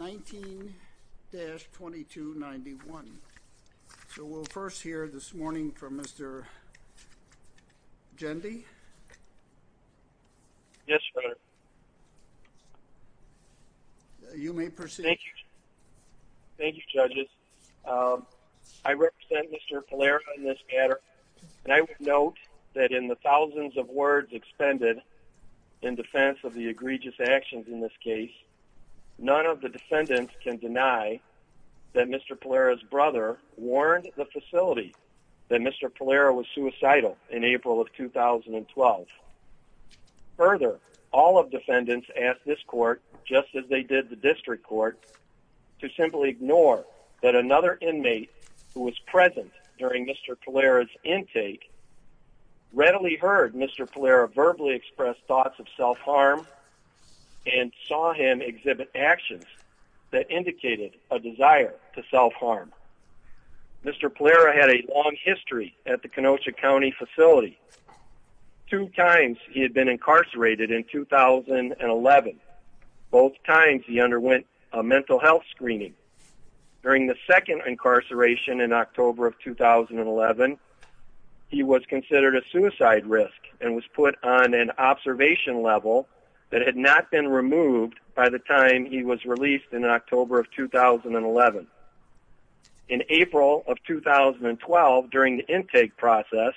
19-2291 So we'll first hear this morning from Mr. Jendi Yes sir You may proceed Thank you judges I represent Mr. Pulera in this matter And I would note that in the thousands of words expended in defense of the egregious actions in this case None of the defendants can deny that Mr. Pulera's brother warned the facility that Mr. Pulera was suicidal in April of 2012 Further, all of the defendants asked this court, just as they did the district court To simply ignore that another inmate who was present during Mr. Pulera's intake Readily heard Mr. Pulera verbally express thoughts of self-harm And saw him exhibit actions that indicated a desire to self-harm Mr. Pulera had a long history at the Kenosha County facility Two times he had been incarcerated in 2011 Both times he underwent a mental health screening During the second incarceration in October of 2011 He was considered a suicide risk and was put on an observation level That had not been removed by the time he was released in October of 2011 In April of 2012, during the intake process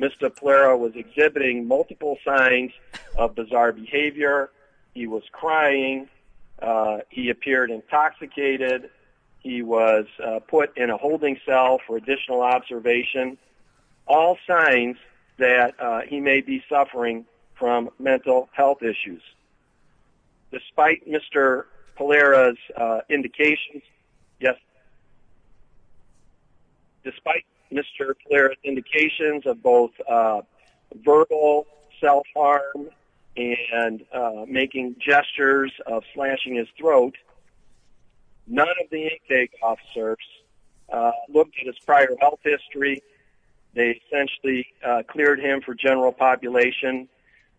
Mr. Pulera was exhibiting multiple signs of bizarre behavior He was crying, he appeared intoxicated He was put in a holding cell for additional observation All signs that he may be suffering from mental health issues Despite Mr. Pulera's indications Despite Mr. Pulera's indications of both verbal self-harm And making gestures of slashing his throat None of the intake officers looked at his prior health history They essentially cleared him for general population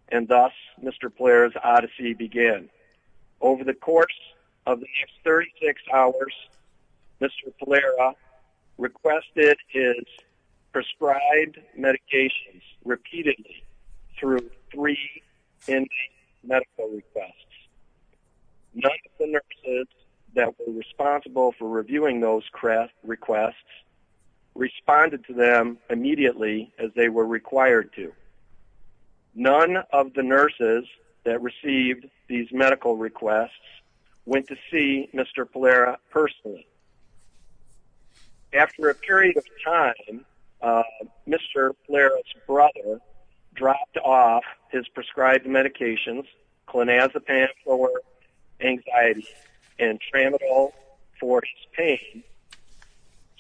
And thus Mr. Pulera's odyssey began Over the course of the next 36 hours Mr. Pulera requested his prescribed medications Repeatedly through three intake medical requests None of the nurses that were responsible for reviewing those requests Responded to them immediately as they were required to None of the nurses that received these medical requests Went to see Mr. Pulera personally After a period of time, Mr. Pulera's brother Dropped off his prescribed medications Clonazepam for anxiety and Tramadol for his pain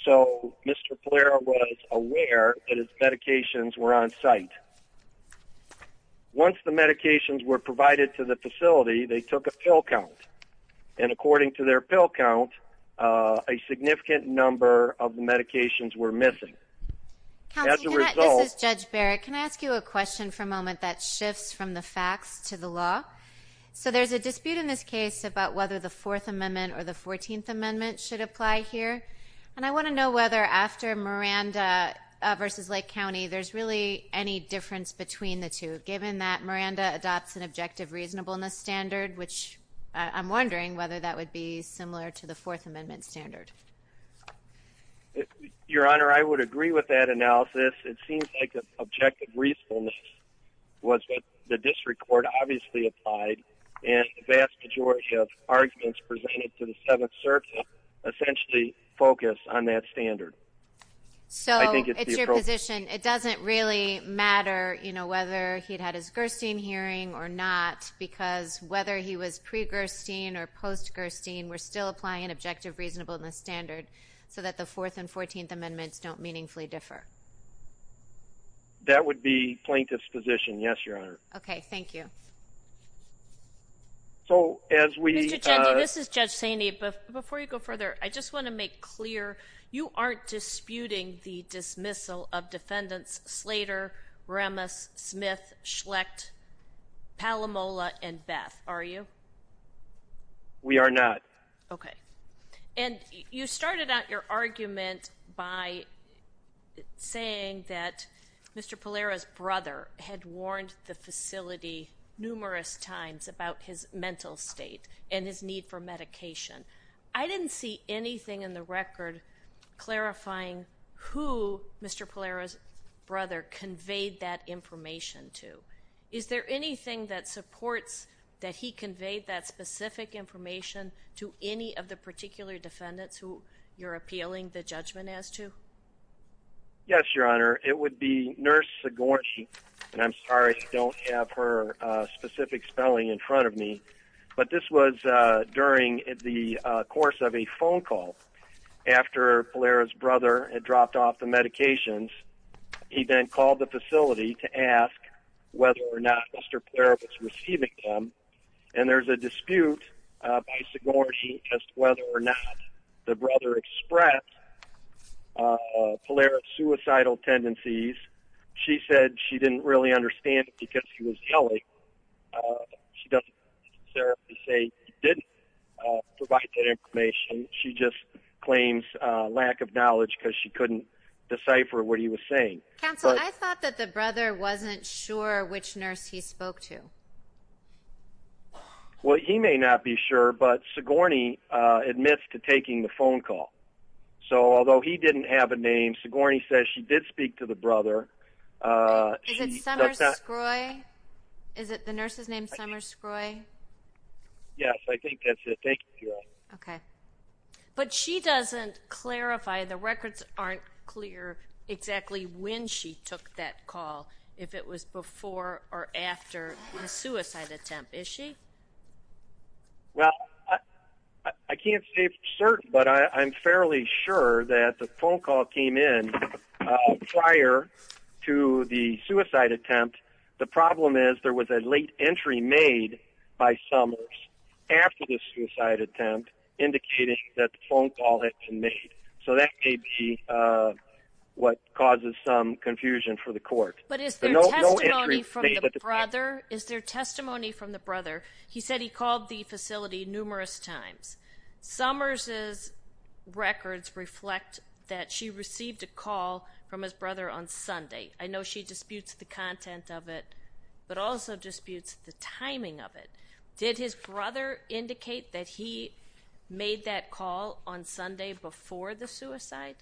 So Mr. Pulera was aware that his medications were on site Once the medications were provided to the facility They took a pill count And according to their pill count A significant number of the medications were missing As a result... Counsel, this is Judge Barrett Can I ask you a question for a moment? That shifts from the facts to the law So there's a dispute in this case About whether the Fourth Amendment or the Fourteenth Amendment should apply here And I want to know whether after Miranda v. Lake County There's really any difference between the two Given that Miranda adopts an objective reasonableness standard Which I'm wondering whether that would be similar to the Fourth Amendment standard Your Honor, I would agree with that analysis It seems like objective reasonableness Was what the district court obviously applied And the vast majority of arguments presented to the Seventh Circuit Essentially focus on that standard So it's your position It doesn't really matter You know, whether he'd had his Gerstein hearing or not Because whether he was pre-Gerstein or post-Gerstein We're still applying an objective reasonableness standard So that the Fourth and Fourteenth Amendments don't meaningfully differ That would be plaintiff's position Yes, Your Honor Okay, thank you Mr. Cheney, this is Judge Saini But before you go further I just want to make clear You aren't disputing the dismissal of defendants Slater, Ramos, Smith, Schlecht, Palomola, and Beth Are you? We are not And you started out your argument by Saying that Mr. Pallera's brother Had warned the facility numerous times About his mental state And his need for medication I didn't see anything in the record Clarifying who Mr. Pallera's brother Conveyed that information to Is there anything that supports That he conveyed that specific information To any of the particular defendants Who you're appealing the judgment as to? Yes, Your Honor It would be Nurse Sigourney And I'm sorry I don't have her Specific spelling in front of me But this was during the course of a phone call After Pallera's brother had dropped off the medications He then called the facility to ask Whether or not Mr. Pallera was receiving them And there's a dispute by Sigourney As to whether or not the brother expressed Pallera's suicidal tendencies She said she didn't really understand Because he was yelling She doesn't necessarily say She didn't provide that information She just claims lack of knowledge Because she couldn't decipher what he was saying Counsel, I thought that the brother Wasn't sure which nurse he spoke to Well, he may not be sure But Sigourney admits to taking the phone call So although he didn't have a name Sigourney says she did speak to the brother Is it Summer Scroi? Is it the nurse's name, Summer Scroi? Yes, I think that's it Thank you, Your Honor Okay But she doesn't clarify The records aren't clear Exactly when she took that call The suicide attempt, is she? Well, I can't say for certain But I'm fairly sure that The phone call came in Prior to the suicide attempt The problem is there was a late entry made By Summers after the suicide attempt Indicating that the phone call had been made So that may be What causes some confusion for the court But is there testimony from the brother? Is there testimony from the brother? He said he called the facility numerous times Summers' records reflect That she received a call From his brother on Sunday I know she disputes the content of it But also disputes the timing of it Did his brother indicate That he made that call On Sunday before the suicide?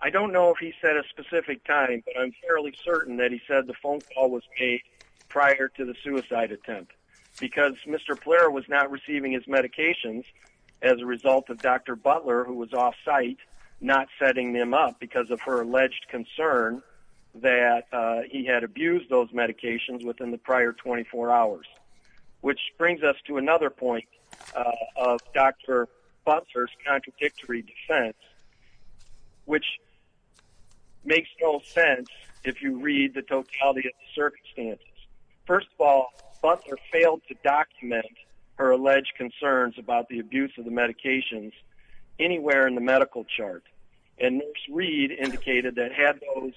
I don't know if he said a specific time But I'm fairly certain that he said The phone call was made Prior to the suicide attempt Because Mr. Blair was not receiving his medications As a result of Dr. Butler Who was off-site Not setting them up Because of her alleged concern That he had abused those medications Within the prior 24 hours Which brings us to another point Of Dr. Butler's contradictory defense Which makes no sense If you read the totality of the circumstances First of all Butler failed to document Her alleged concerns About the abuse of the medications Anywhere in the medical chart And Nurse Reed indicated That had those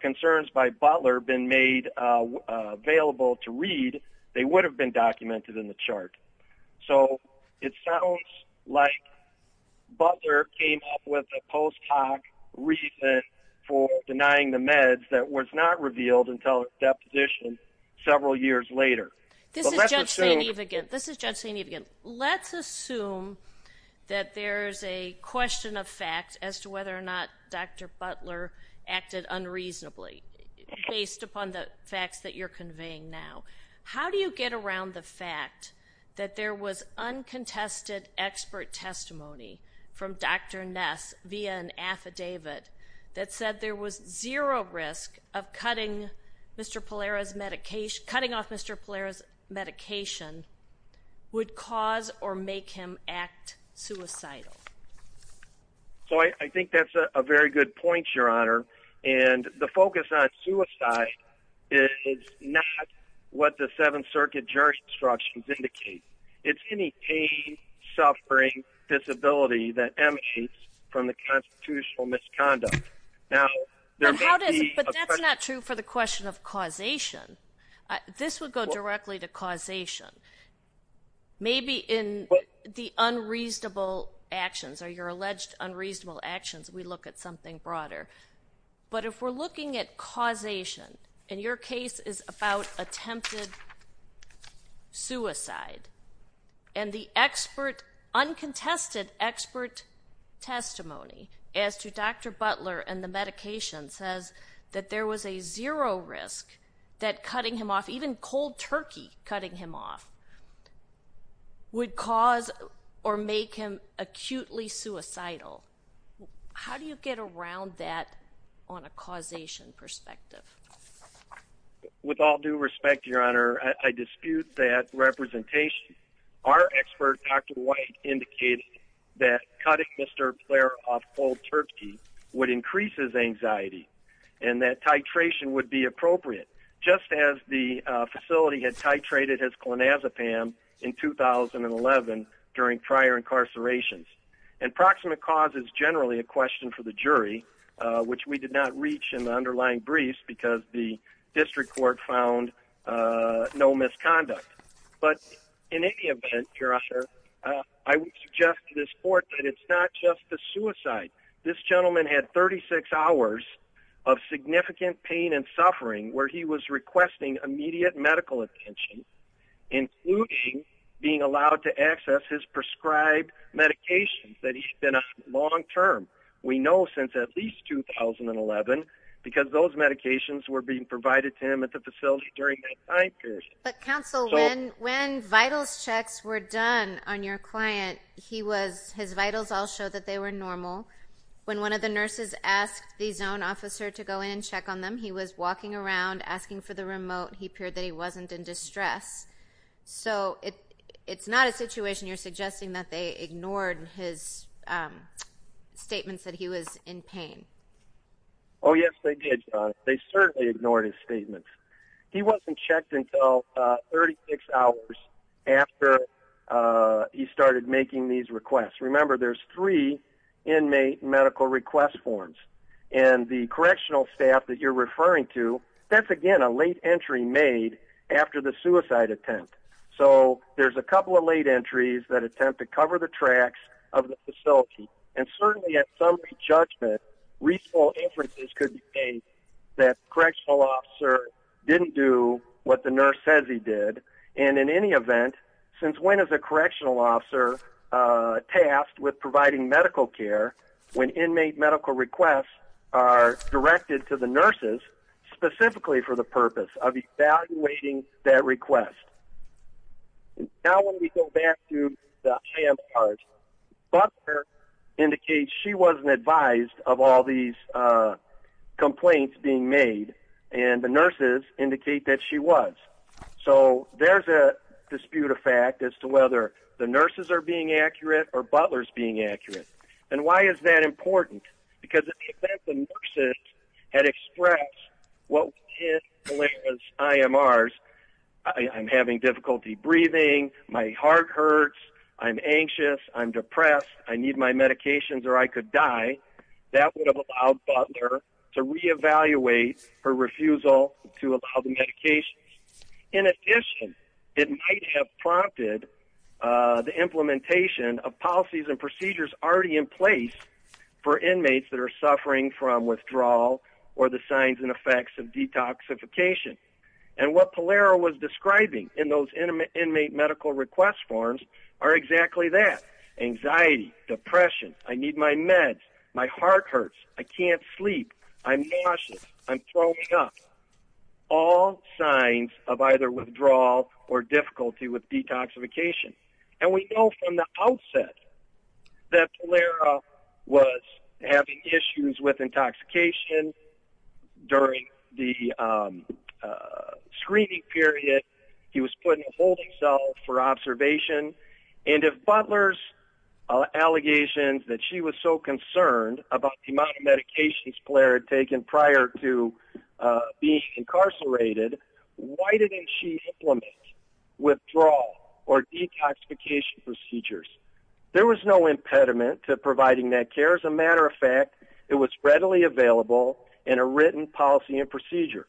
concerns by Butler Been made available to Reed They would have been documented in the chart So it sounds like Butler came up with a post hoc reason For denying the meds That was not revealed until Deposition several years later This is Judge St. Evigen Let's assume That there's a question of fact As to whether or not Dr. Butler Acted unreasonably Based upon the facts That you're conveying now How do you get around the fact That there was uncontested Expert testimony From Dr. Ness Via an affidavit That said there was zero risk Of cutting Mr. Pallera's medication Cutting off Mr. Pallera's medication Would cause or make him act suicidal So I think that's a very good point Your Honor And the focus on suicide Is not what the 7th Circuit Jurisdictions indicate It's any pain Suffering disability That emanates From the constitutional misconduct Now There may be But that's not true For the question of causation This would go directly to causation Maybe in The unreasonable actions Or your alleged unreasonable actions We look at something broader But if we're looking at causation And your case is about Attempted Suicide And the expert Uncontested expert Testimony As to Dr. Butler And the medication Says that there was a zero risk That cutting him off Even cold turkey Cutting him off Would cause Or make him acutely suicidal How do you get around that On a causation perspective With all due respect Your Honor I dispute that representation Our expert Dr. White Indicated That cutting Mr. Blair off Cold turkey Would increase his anxiety And that titration would be appropriate Just as the facility Had titrated his clonazepam In 2011 During prior incarcerations And proximate cause is generally A question for the jury Which we did not reach In the underlying briefs Because the district court found No misconduct But in any event Your Honor I would suggest to this court That it's not just the suicide This gentleman had 36 hours Of significant pain and suffering Where he was requesting Immediate medical attention Including being allowed to access His prescribed medications That he's been on long term We know since at least 2011 Because those medications Were being provided to him At the facility During that time period But counsel When vitals checks were done On your client His vitals all showed That they were normal When one of the nurses Asked the zone officer To go in and check on them He was walking around Asking for the remote He appeared that he wasn't in distress So it's not a situation You're suggesting That they ignored his statements That he was in pain Oh yes they did They certainly ignored his statements He wasn't checked until 36 hours After he started making these requests Remember there's three Inmate medical request forms And the correctional staff That you're referring to That's again a late entry made After the suicide attempt So there's a couple of late entries That attempt to cover the tracks Of the facility And certainly at some re-judgment Reasonable inferences could be made That correctional officer Didn't do what the nurse says he did And in any event Since when is a correctional officer Tasked with providing medical care When inmate medical requests Are directed to the nurses Specifically for the purpose Of evaluating that request Now when we go back to the hand part Butler indicates she wasn't advised Of all these complaints being made And the nurses indicate that she was So there's a dispute of fact As to whether the nurses are being accurate Or Butler's being accurate And why is that important Because in the event The nurses had expressed What were his IMRs I'm having difficulty breathing My heart hurts I'm anxious I'm depressed I need my medications Or I could die That would have allowed Butler To re-evaluate her refusal To allow the medications In addition It might have prompted The implementation of policies and procedures Already in place For inmates that are suffering from withdrawal Or the signs and effects of detoxification And what Polaro was describing In those inmate medical request forms Are exactly that Anxiety Depression I need my meds My heart hurts I can't sleep I'm nauseous I'm throwing up All signs of either withdrawal Or difficulty with detoxification And we know from the outset That Polaro was having issues With intoxication During the screening period He was put in a holding cell For observation And if Butler's allegations That she was so concerned About the amount of medications Polaro had taken prior to Being incarcerated Why didn't she implement Withdrawal or detoxification procedures There was no impediment To providing that care As a matter of fact It was readily available In a written policy and procedure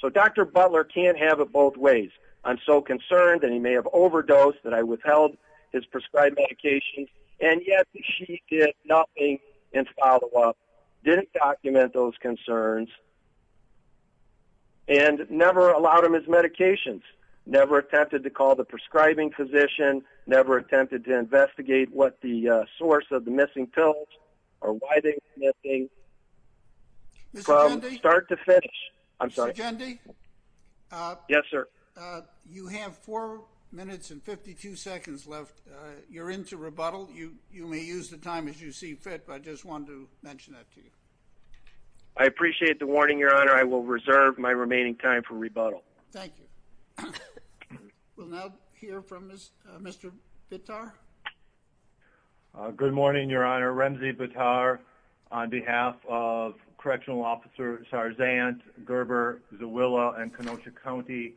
So Dr. Butler can't have it both ways I'm so concerned And he may have overdosed That I withheld his prescribed medication And yet she did nothing In follow up Didn't document those concerns And never allowed him his medications Never attempted to call The prescribing physician Never attempted to investigate What the source of the missing pills Or why they were missing From start to finish I'm sorry Mr. Jendi Yes sir You have 4 minutes and 52 seconds left You're in to rebuttal You may use the time as you see fit But I just wanted to mention that to you I appreciate the warning your honor I will reserve my remaining time for rebuttal Thank you We'll now hear from Mr. Bittar Good morning your honor Remzi Bittar On behalf of Correctional Officer Sarzant Gerber Zawila And Kenosha County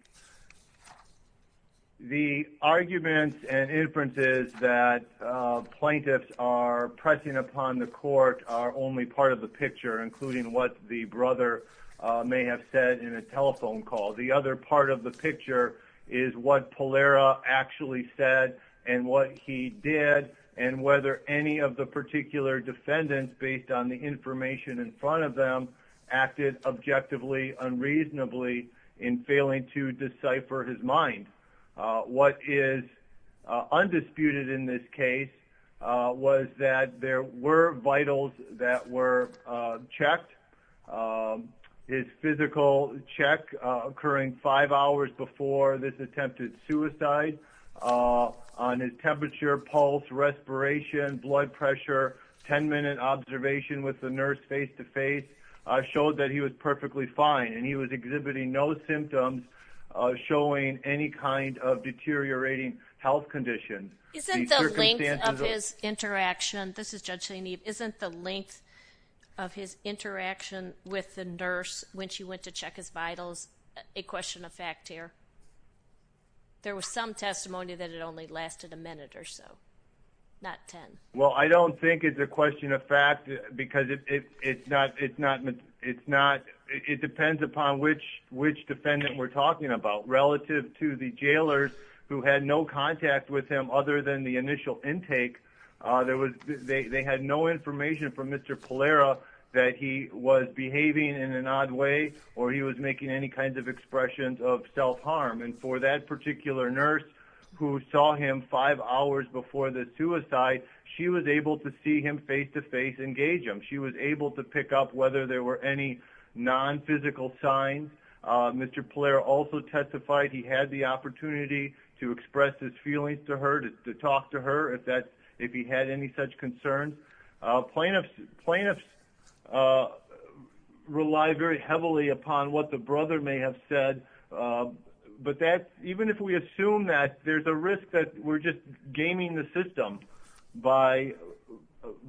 The arguments and inferences That plaintiffs are pressing upon the court Are only part of the picture Including what the brother May have said in a telephone call The other part of the picture Is what Pallera actually said And what he did And whether any of the particular defendants Based on the information in front of them Acted objectively Unreasonably In failing to decipher his mind What is Undisputed in this case Was that There were vitals that were Checked His physical Check occurring 5 hours Before this attempted suicide On his temperature Pulse, respiration Blood pressure 10 minute observation with the nurse face to face Showed that he was perfectly fine And he was exhibiting no symptoms Showing any kind of Deteriorating health condition Isn't the length of his Interaction Isn't the length Of his interaction with the nurse When she went to check his vitals A question of fact here There was some testimony That it only lasted a minute or so Not 10 Well I don't think it's a question of fact Because it's not It depends upon Which defendant we're talking about Relative to the jailers Who had no contact with him Other than the initial intake They had no information From Mr. Pallera That he was behaving in an odd way Or he was making any kind of Expressions of self harm And for that particular nurse Who saw him 5 hours Before the suicide She was able to see him face to face And engage him She was able to pick up Whether there were any non-physical signs Mr. Pallera also testified He had the opportunity To express his feelings to her To talk to her If he had any such concerns Plaintiffs Rely very heavily Upon what the brother may have said But that Even if we assume that There's a risk that we're just Blocking the system By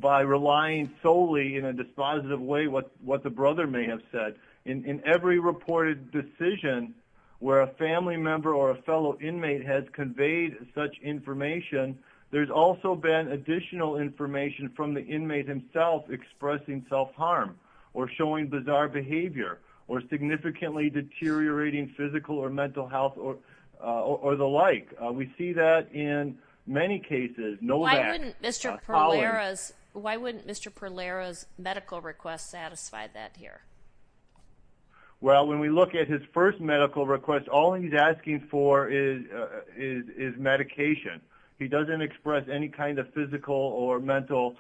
relying solely In a dispositive way What the brother may have said In every reported decision Where a family member Or a fellow inmate has conveyed Such information There's also been additional information From the inmate himself Expressing self harm Or showing bizarre behavior Or significantly deteriorating Physical or mental health Or the like We see that in many cases Why wouldn't Mr. Pallera's Medical request Satisfy that here? Well When we look at his first medical request All he's asking for Is medication He doesn't express any kind of physical Or mental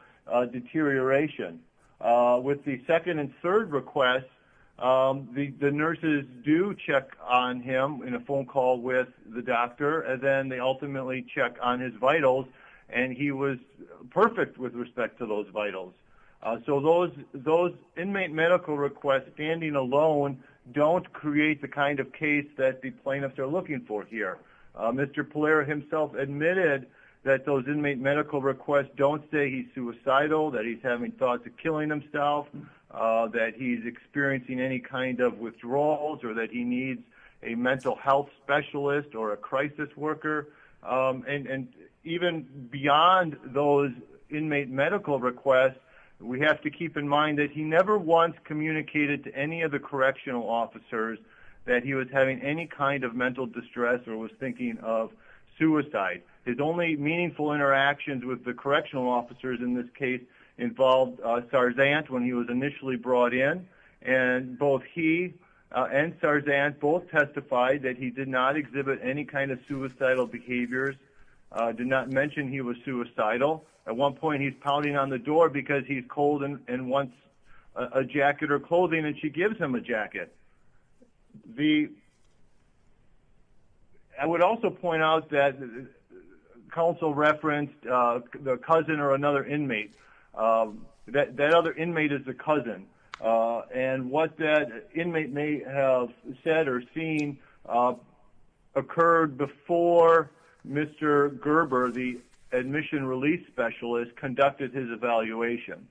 deterioration With the second And third request The nurses do check On him in a phone call With the doctor And then they ultimately check on his vitals And he was perfect With respect to those vitals So those inmate medical requests Standing alone Don't create the kind of case That the plaintiffs are looking for here Mr. Pallera himself admitted That those inmate medical requests Don't say he's suicidal That he's having thoughts of killing himself That he's experiencing Any kind of withdrawals Or that he needs a mental health specialist Or a crisis worker And even Beyond those Inmate medical requests We have to keep in mind that he never once Communicated to any of the correctional Officers that he was having Any kind of mental distress Or was thinking of suicide His only meaningful interactions With the correctional officers in this case Involved Sarzant When he was initially brought in And both he And Sarzant both testified That he did not exhibit any kind of suicidal Behaviors Did not mention he was suicidal At one point he's pounding on the door Because he's cold and wants A jacket or clothing And she gives him a jacket I would also point out that Counsel referenced The cousin or another inmate That other inmate Is the cousin And what that inmate may have Said or seen Occurred before Mr. Gerber The admission release specialist Conducted his evaluation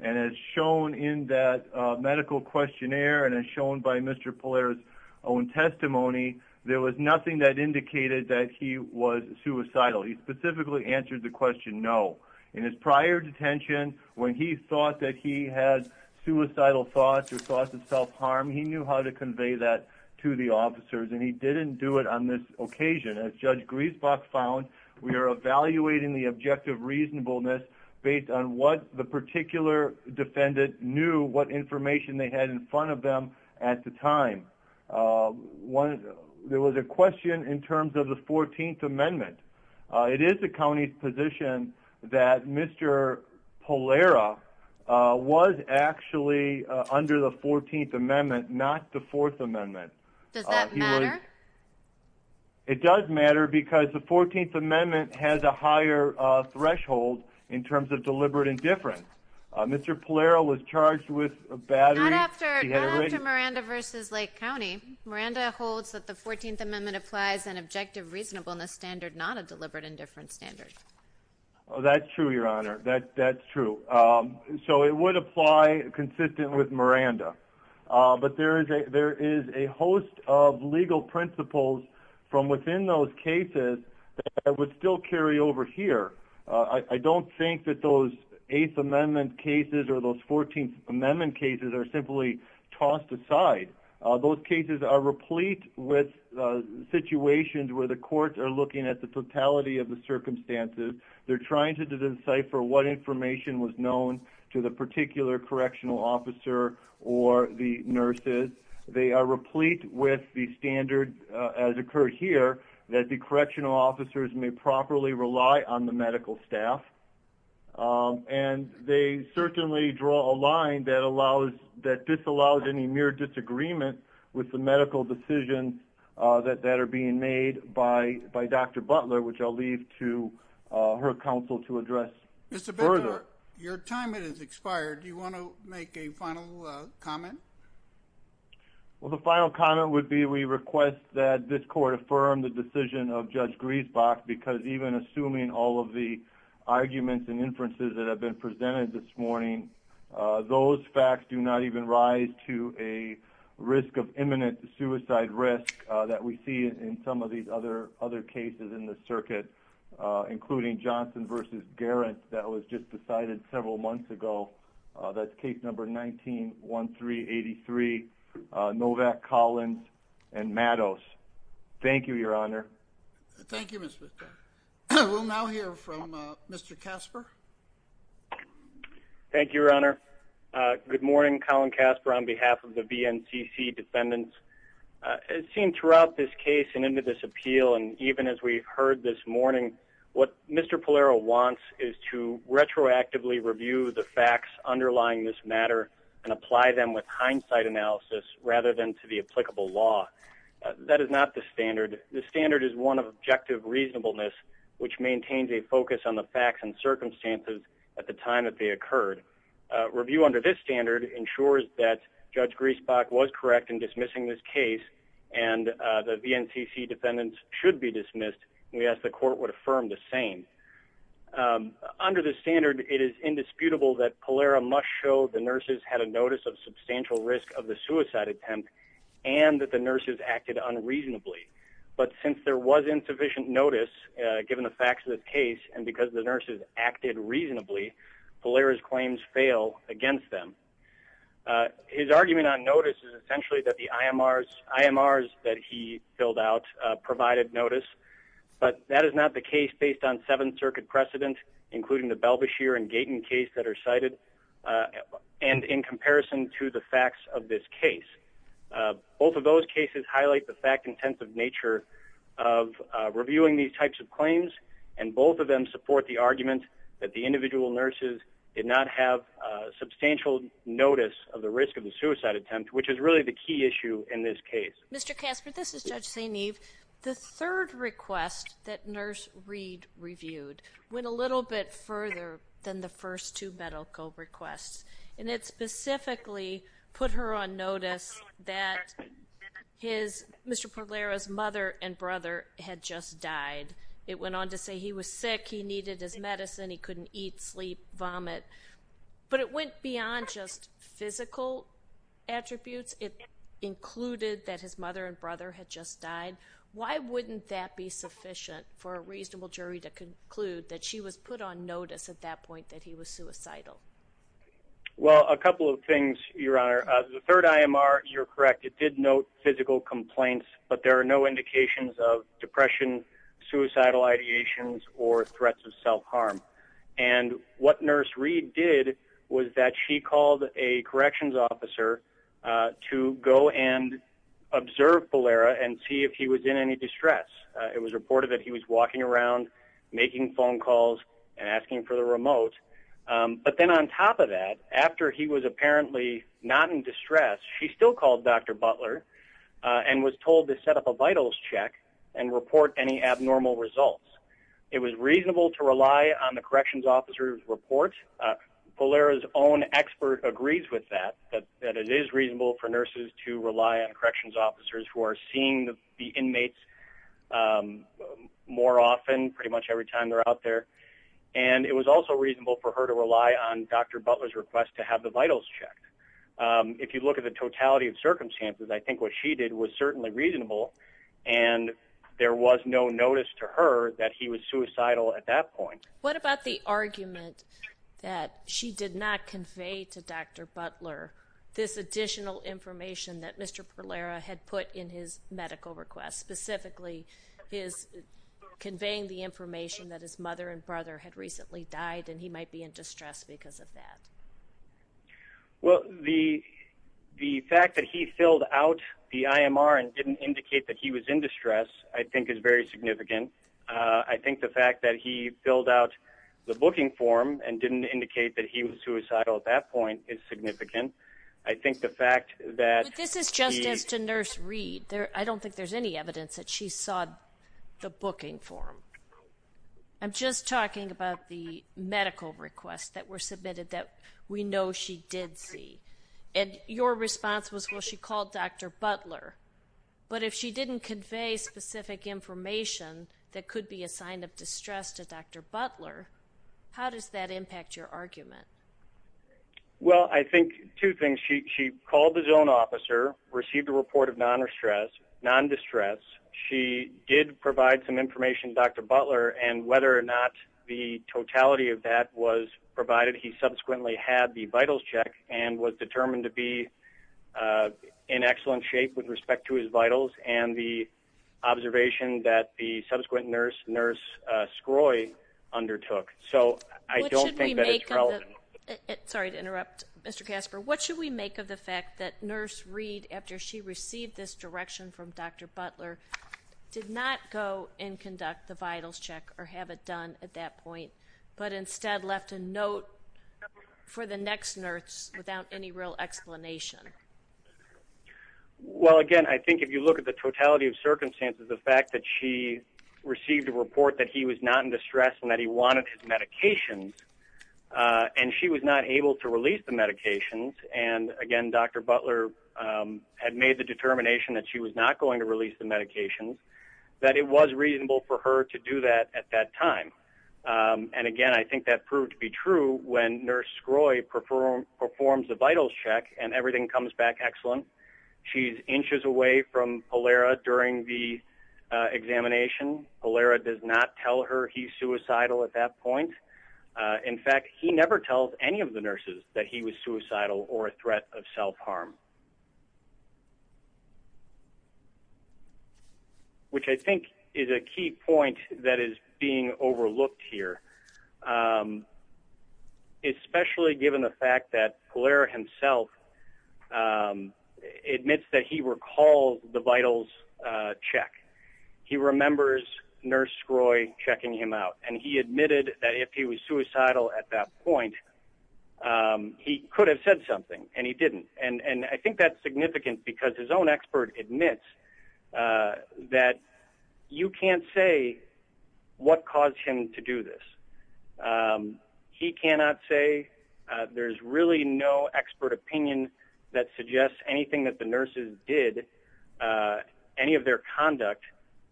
And as shown in that Medical questionnaire And as shown by Mr. Polaris own testimony There was nothing that Indicated that he was suicidal He specifically answered the question No. In his prior detention When he thought that he had Suicidal thoughts or Thoughts of self-harm He knew how to convey that to the officers And he didn't do it on this occasion As Judge Griesbach found We are evaluating the objective reasonableness Based on what the particular Defendant knew What information they had in front of them At the time There was a question In terms of the 14th amendment It is the county's position That Mr. Polaris Was actually Under the 14th amendment Not the 4th amendment Does that matter? It does matter Because the 14th amendment Has a higher threshold In terms of deliberate indifference Mr. Polaris was charged with Battery Not after Miranda v. Lake County Miranda holds that the 14th amendment Applies an objective reasonableness standard Not a deliberate indifference standard That's true, your honor That's true So it would apply consistent with Miranda But there is A host of legal Principles from within those Cases that would still Carry over here I don't think that those 8th amendment Cases or those 14th amendment Cases are simply Tossed aside Those cases are replete With situations Where the courts are looking at the totality Of the circumstances They're trying to decipher what information Was known to the particular Correctional officer or The nurses They are replete with the standard As occurred here That the correctional officers may properly rely On the medical staff And they Certainly draw a line that allows That disallows any mere disagreement With the medical decisions That are being made By Dr. Butler Which I'll leave to her counsel To address further Your time has expired Do you want to make a final comment? Well the final comment Would be we request that this Court affirm the decision of Judge Griesbach because even assuming All of the arguments and inferences That have been presented this morning Those facts do not even Rise to a Risk of imminent suicide risk That we see in some of these other Cases in the circuit Including Johnson vs. Garrett that was just decided several Months ago That's case number 19-1383 Novak, Collins And Mados Thank you your honor Thank you Mr. We'll now hear from Mr. Casper Thank you your honor Good morning Colin Casper on behalf of the BNCC defendants As seen throughout this case and into this Appeal and even as we've heard this Morning what Mr. Polaro Wants is to retroactively Review the facts underlying This matter and apply them with Hindsight analysis rather than to The applicable law That is not the standard The standard is one of objective reasonableness Which maintains a focus on the Facts and circumstances at the time That they occurred. Review under This standard ensures that Judge Griesbach was correct in dismissing This case and the BNCC defendants should be dismissed And we ask the court would affirm the same Under this Standard it is indisputable that Polaro Must show the nurses had a notice Of substantial risk of the suicide Attempt and that the nurses acted Unreasonably but since There was insufficient notice Given the facts of this case and because the nurses Acted reasonably Polaro's claims fail against them His argument On notice is essentially that the IMRs That he filled out Provided notice But that is not the case based on Seven circuit precedent including the Belbashire and Gaten case that are cited And in comparison To the facts of this case Both of those cases highlight The fact intensive nature Of reviewing these types of claims And both of them support the argument That the individual nurses Did not have substantial Notice of the risk of the suicide Attempt which is really the key issue in this Case. Mr. Casper this is Judge St. Eve. The third request That Nurse Reed reviewed Went a little bit further Than the first two medical requests And it specifically Put her on notice That his Mr. Polaro's mother and brother Had just died. It went On to say he was sick, he needed his Medicine, he couldn't eat, sleep, vomit But it went beyond Just physical Attributes. It included That his mother and brother had just died Why wouldn't that be sufficient For a reasonable jury to Conclude that she was put on notice At that point that he was suicidal Well a couple of things Your honor, the third IMR You're correct, it did note physical Complaints but there are no indications Of depression, suicidal Ideations or threats of self Harm and what Nurse Reed did was that She called a corrections officer To go and Observe Polaro and See if he was in any distress It was reported that he was walking around Making phone calls and asking For the remote but then On top of that, after he was Apparently not in distress She still called Dr. Butler And was told to set up a vitals Check and report any abnormal Results. It was reasonable To rely on the corrections officer's Report. Polaro's Own expert agrees with that That it is reasonable for nurses to Rely on corrections officers who are Seeing the inmates More often Pretty much every time they're out there And it was also reasonable for her To rely on Dr. Butler's request To have the vitals checked If you look at the totality of circumstances I think what she did was certainly reasonable And there was No notice to her that he was suicidal At that point. What about the Argument that she Did not convey to Dr. Butler This additional information That Mr. Polaro had put In his medical request, specifically His Conveying the information that His mother and brother had recently died And he might be in distress because of that Well The fact that he Filled out the IMR and didn't Indicate that he was in distress I think is very significant I think the fact that he filled out The booking form and didn't Indicate that he was suicidal at that point Is significant. I think the Fact that... But this is just as to Nurse Reed. I don't think there's any Booking form I'm just talking about the Medical requests that were submitted that We know she did see And your response was She called Dr. Butler But if she didn't convey specific Information that could be A sign of distress to Dr. Butler How does that impact your Argument? Well, I think two things She called the zone officer, received a report Of non-distress She did provide Some information to Dr. Butler And whether or not the Totality of that was provided He subsequently had the vitals check And was determined to be In excellent shape With respect to his vitals And the observation that the Subsequent nurse, Nurse Scroi Undertook. So I don't think that it's relevant Sorry to interrupt, Mr. Casper What should we make of the fact that Nurse Reed, after she received This direction from Dr. Butler Did not go and conduct The vitals check or have it done At that point, but instead left A note for the Next nurse without any real Explanation Well, again, I think if you look at the Totality of circumstances, the fact that she Received a report that he Was not in distress and that he wanted his Medications And she was not able to release the medications And again, Dr. Butler Had made the determination that She was not going to release the medications That it was reasonable for her To do that at that time And again, I think that proved to be True when Nurse Scroi Performs the vitals check and Everything comes back excellent She's inches away from Polera During the examination Polera does not tell her He's suicidal at that point In fact, he never tells Any of the nurses that he was suicidal Or a threat of self-harm Which I think is a key point That is being overlooked here Especially given the fact That Polera himself Admits that He recalled the vitals Check he remembers Nurse Scroi checking him Out and he admitted that if he was He could have said something And he didn't and I think that's Significant because his own expert admits That you can't say What caused him to do this He cannot say There's really no expert opinion That suggests anything that the nurses Did Any of their conduct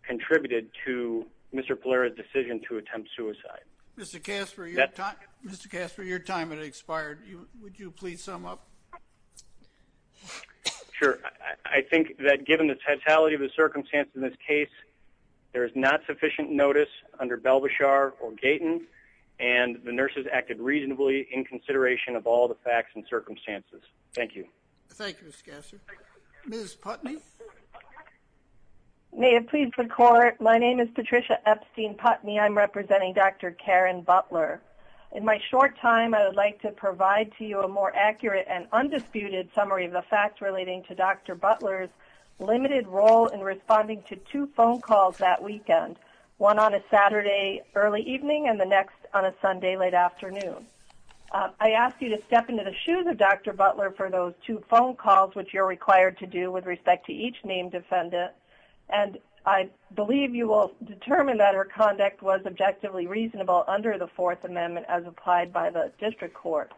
Contributed to Mr. Polera's decision To attempt suicide Mr. Casper Mr. Casper your time has expired Would you please sum up Sure I think that given the totality of the Circumstances in this case There is not sufficient notice Under Belbashar or Gaten And the nurses acted reasonably In consideration of all the facts and Circumstances thank you Thank you Ms. Putney May it please the court My name is Patricia Epstein Putney I'm representing Dr. Karen Butler In my short time I would Like to provide to you a more accurate And undisputed summary of the fact Relating to Dr. Butler's Limited role in responding to two Phone calls that weekend One on a Saturday early evening And the next on a Sunday late afternoon I ask you to step Into the shoes of Dr. Butler for those Two phone calls which you're required to do With respect to each named defendant And I believe you will Determine that her conduct was Objectively reasonable under the Fourth amendment as applied by the District court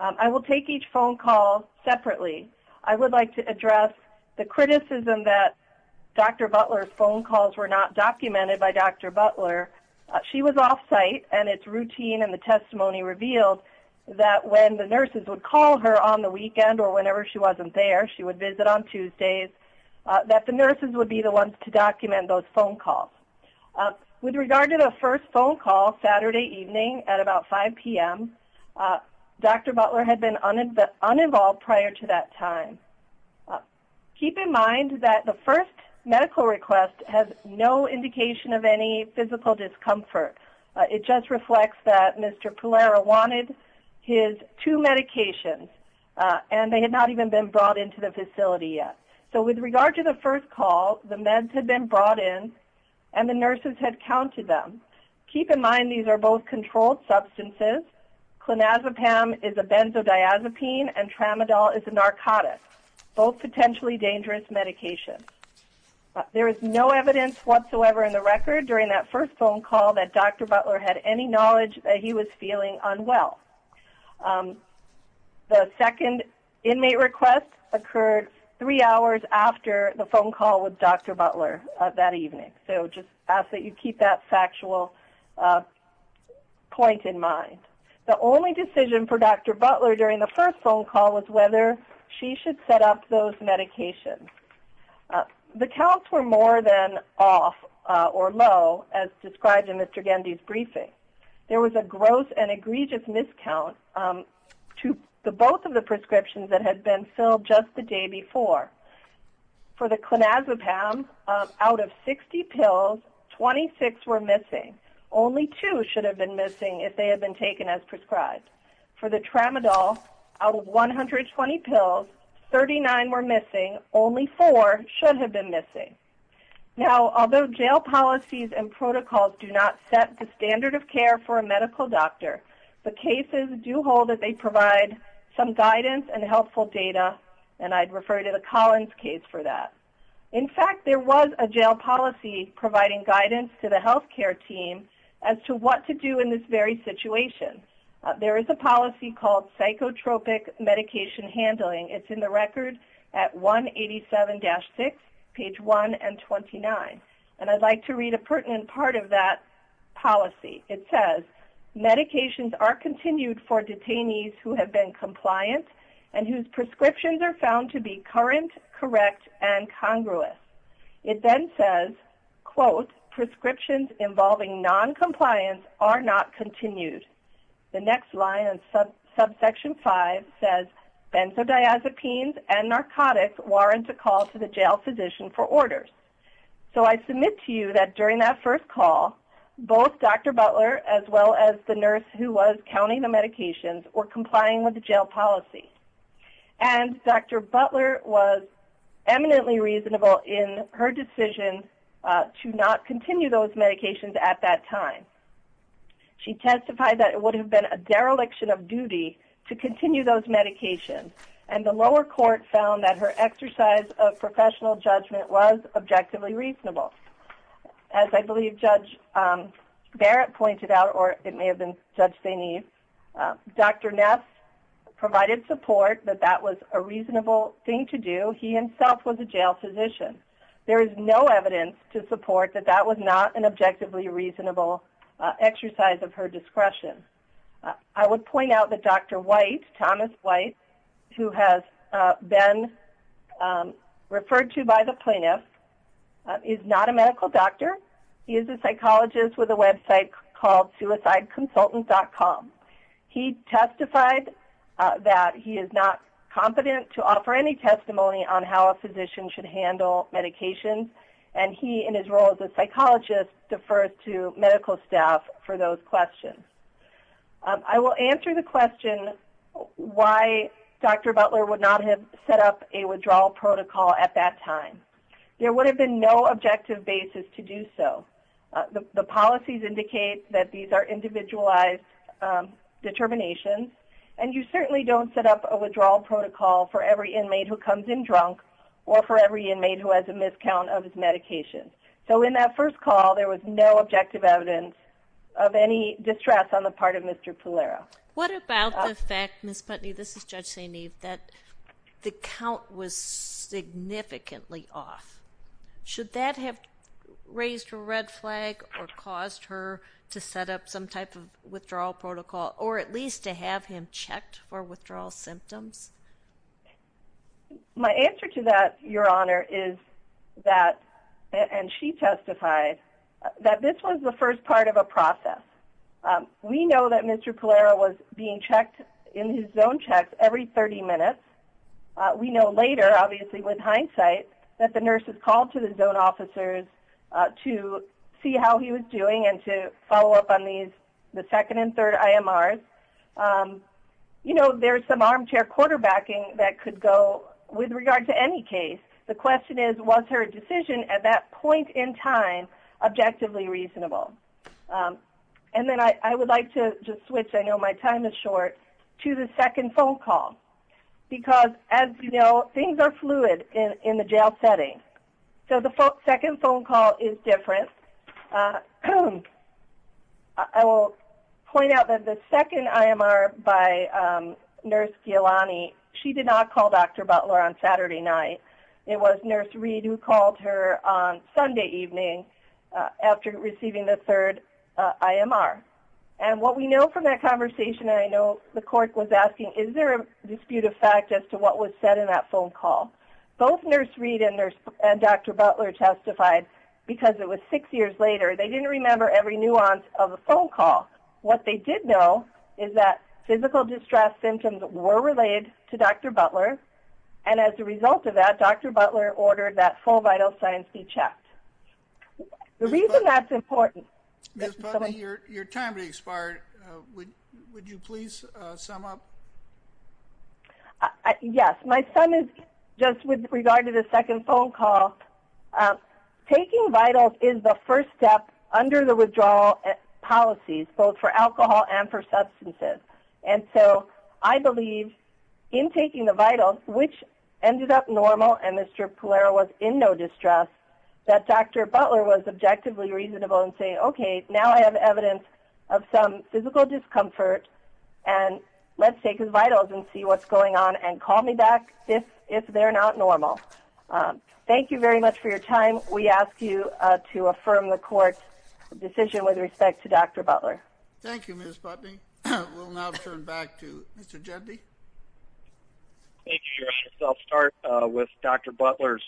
I will take each Phone call separately I would like to address the Criticism that Dr. Butler's Phone calls were not documented by Dr. Butler she was Off site and it's routine and the Testimony revealed that when The nurses would call her on the weekend Or whenever she wasn't there she would Visit on Tuesdays that the Nurses would be the ones to document those Phone calls with regard To the first phone call Saturday Evening at about 5 p.m. Dr. Butler had been Uninvolved prior to that time Keep in Mind that the first medical Request has no indication Of any physical discomfort It just reflects that Mr. Polaro wanted his Two medications and They had not even been brought into the facility Yet so with regard to the first call The meds had been brought in And the nurses had counted them Keep in mind these are both controlled Substances Clonazepam is a benzodiazepine And tramadol is a narcotic Both potentially dangerous Medications there is No evidence whatsoever in the record During that first phone call that Dr. Butler Had any knowledge that he was feeling Unwell The second Inmate request occurred Three hours after the phone call With Dr. Butler that evening So just ask that you keep that Factual Point in mind The only decision for Dr. Butler During the first phone call was whether She should set up those medications The counts Were more than off Or low as described in Mr. Gandy's briefing There was a gross and egregious Miscount To both of the prescriptions that had been Filled just the day before For the clonazepam Out of 60 pills 26 were missing Only 2 should have been missing If they had been taken as prescribed For the tramadol Out of 120 pills 39 were missing Only 4 should have been missing Now although jail policies and Care for a medical doctor The cases do hold that they provide Some guidance and helpful data And I'd refer to the Collins case for that In fact there was a jail policy Providing guidance to the health care team As to what to do in this Very situation There is a policy called psychotropic Medication handling It's in the record at 187-6 page 1 and 29 And I'd like to read a pertinent Part of that policy It says medications are Continued for detainees who have Been compliant and whose Prescriptions are found to be current Correct and congruous It then says Quote prescriptions involving Noncompliance are not Continued the next line Subsection 5 says Benzodiazepines and Narcotics warrant a call to the jail Physician for orders So I submit to you that During that first call both Dr. Butler as well as the nurse Who was counting the medications Were complying with the jail policy And Dr. Butler Was eminently reasonable In her decision To not continue those medications At that time She testified that it would have been A dereliction of duty to continue Those medications and the lower Court found that her exercise Of professional judgment was Objectively reasonable As I believe Judge Barrett Pointed out or it may have been Judge St. Eve Dr. Ness provided support That that was a reasonable thing To do he himself was a jail physician There is no evidence To support that that was not an objectively Reasonable exercise Of her discretion I would point out that Dr. White Thomas White who has Been Referred to by the plaintiff Is not a medical doctor He is a psychologist with a website Called suicideconsultant.com He testified That he is not Competent to offer any testimony On how a physician should handle Medications and he In his role as a psychologist Defers to medical staff for those Questions I will answer the question Why Dr. Butler Would not have set up a withdrawal Protocol at that time There would have been no objective basis To do so the policies Indicate that these are individualized Determinations And you certainly don't set up A withdrawal protocol for every inmate Who comes in drunk or for every Inmate who has a miscount of his medications So in that first call there was No objective evidence Of any distress on the part of Mr. Tolero What about the fact that The count was Significantly off Should that have Raised a red flag or Caused her to set up some type of Withdrawal protocol or at least To have him checked for withdrawal Symptoms My answer to that Your honor is that And she testified That this was the first part of a process We know that Mr. Tolero Was being checked in his Zone checks every 30 minutes We know later obviously With hindsight that the nurses called To the zone officers To see how he was doing And to follow up on these The second and third IMRs You know there is some armchair Quarterbacking that could go With regard to any case The question is was her decision at that Point in time objectively Reasonable And then I would like to just switch I know my time is short to the Second phone call because As you know things are fluid In the jail setting So the second phone call is Different I will Point out that the second IMR By nurse She did not call Dr. Butler On Saturday night it was Nurse Reed who called her on Receiving the third IMR And what we know from that Conversation I know the court was Asking is there a dispute of fact As to what was said in that phone call Both nurse Reed and Dr. Butler testified because It was six years later they didn't remember Every nuance of the phone call What they did know is that Physical distress symptoms were And as a result of that Dr. Butler Ordered that full vital signs be checked The reason that's Important Your time to expire Would you please sum up Yes my son is just With regard to the second phone call Taking vitals Is the first step under the Withdrawal policies both for Alcohol and for substances And so I believe In taking the vitals which Ended up normal and Mr. Butler was in no distress That Dr. Butler was objectively Reasonable and say okay now I have Evidence of some physical Discomfort and Let's take his vitals and see what's going on And call me back if They're not normal Thank you very much for your time we ask You to affirm the court Decision with respect to Dr. Butler Thank you We'll now turn back to Mr. Butler's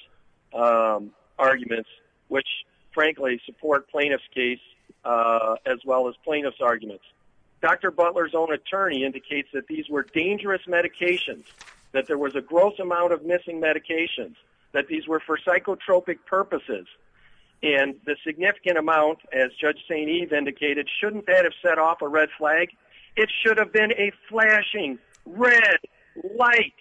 Arguments which frankly Support plaintiff's case As well as plaintiff's arguments Dr. Butler's own attorney indicates That these were dangerous medications That there was a gross amount of Missing medications that these were For psychotropic purposes And the significant amount As Judge St. Eve indicated shouldn't That have set off a red flag It should have been a flashing Red light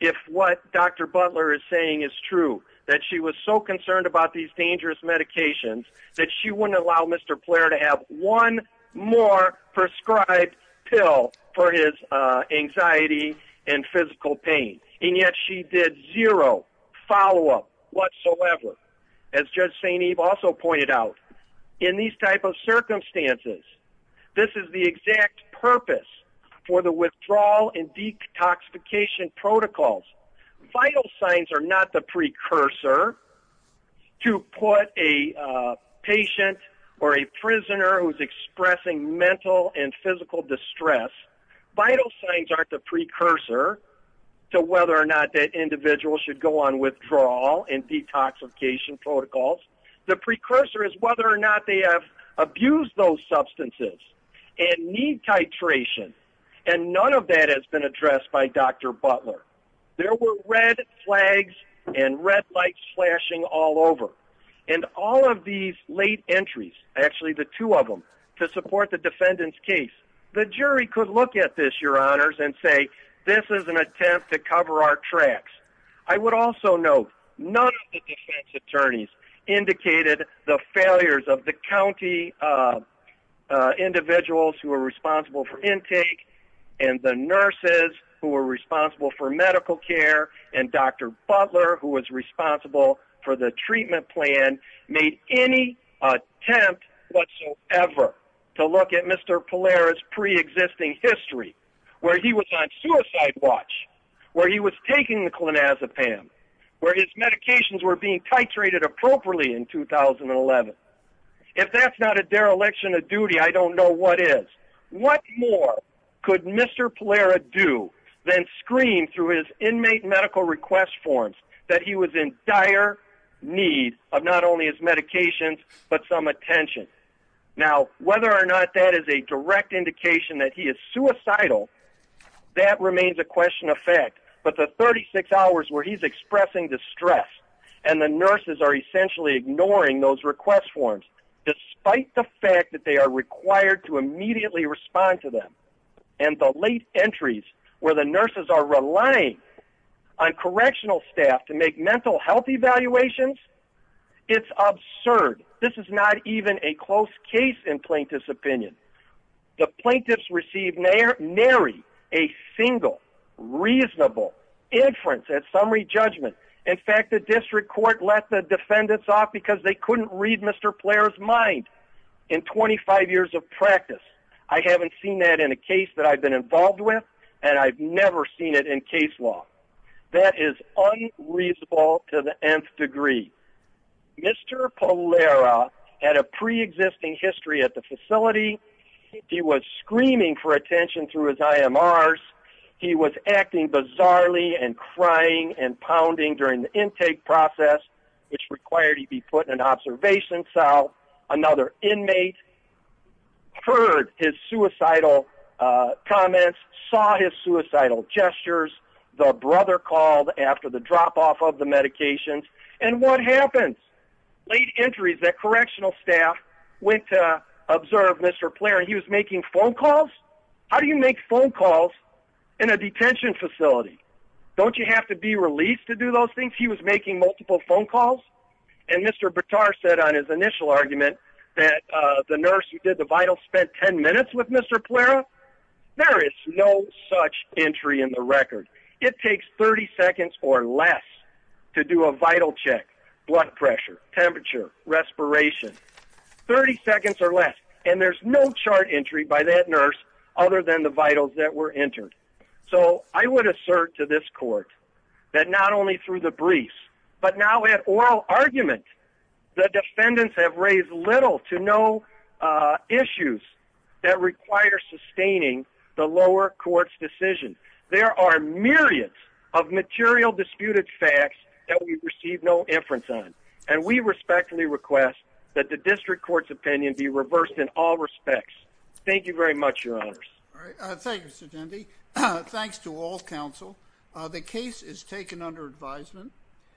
If what Dr. Butler Is saying is true that she was So concerned about these dangerous medications That she wouldn't allow Mr. Player to have one more Prescribed pill For his anxiety And physical pain and yet She did zero follow Up whatsoever as Judge St. Eve also pointed out In these type of circumstances This is the exact Purpose for the withdrawal And detoxification protocols Vital signs are Not the precursor To put a Patient or a Prisoner who is expressing mental And physical distress Vital signs aren't the precursor To whether or not that Individual should go on withdrawal And detoxification protocols The precursor is whether or not They have abused those substances And need titration And none of that has been addressed By Dr. Butler There were red flags And red lights flashing all over And all of these Late entries actually the two of them To support the defendant's case The jury could look at this Your honors and say this is an Attempt to cover our tracks I would also note None of the defense attorneys Indicated the failures of the County Of individuals Who were responsible for intake And the nurses Who were responsible for medical care And Dr. Butler who was Responsible for the treatment plan Made any Attempt whatsoever To look at Mr. Polaris Pre-existing history Where he was on suicide watch Where he was taking the clonazepam Where his medications were being Titrated appropriately in 2011 If that's not a dereliction Of duty I don't know what is What more could Mr. Polaris do than Scream through his inmate medical Request forms that he was in Dire need of not only His medications but some attention Now whether or not That is a direct indication that He is suicidal That remains a question of fact But the 36 hours where he's expressing Distress and the nurses Are essentially ignoring those request Forms despite the fact That they are required to immediately Respond to them and the Late entries where the nurses are Relying on correctional Staff to make mental health Evaluations it's Absurd this is not even A close case in plaintiff's opinion The plaintiffs received Nary a single Reasonable Inference at summary judgment In fact the district court Let the defendants off because they couldn't Read Mr. Polaris mind In 25 years of practice I haven't seen that in a case That I've been involved with and I've Never seen it in case law That is unreasonable To the nth degree Mr. Polaris Had a pre-existing history at the Facility he was Screaming for attention through his IMRs He was acting bizarrely And crying and pounding during The intake process which required He be put in an observation cell Another inmate Heard his Suicidal comments Saw his suicidal gestures The brother called After the drop off of the medications And what happens Late entries that correctional staff Went to observe Mr. Polaris he was making phone calls How do you make phone calls In a detention facility Don't you have to be released to do Those things he was making multiple phone calls And Mr. Bitar said on his initial argument That the nurse who did the vital spent 10 minutes with Mr. Polaris no such Entry in the record it takes 30 seconds or less To do a vital check blood pressure Temperature respiration 30 seconds or less And there's no chart entry by that Nurse other than the vitals that were Entered so I would assert To this court that not Only through the briefs but now At oral argument the Defendants have raised little to No issues That require sustaining The lower court's decision There are myriads of Material disputed facts That we receive no inference on And we respectfully request that The district court's opinion be reversed In all respects thank you very much Your honors Thanks to all council The case is taken under Advisement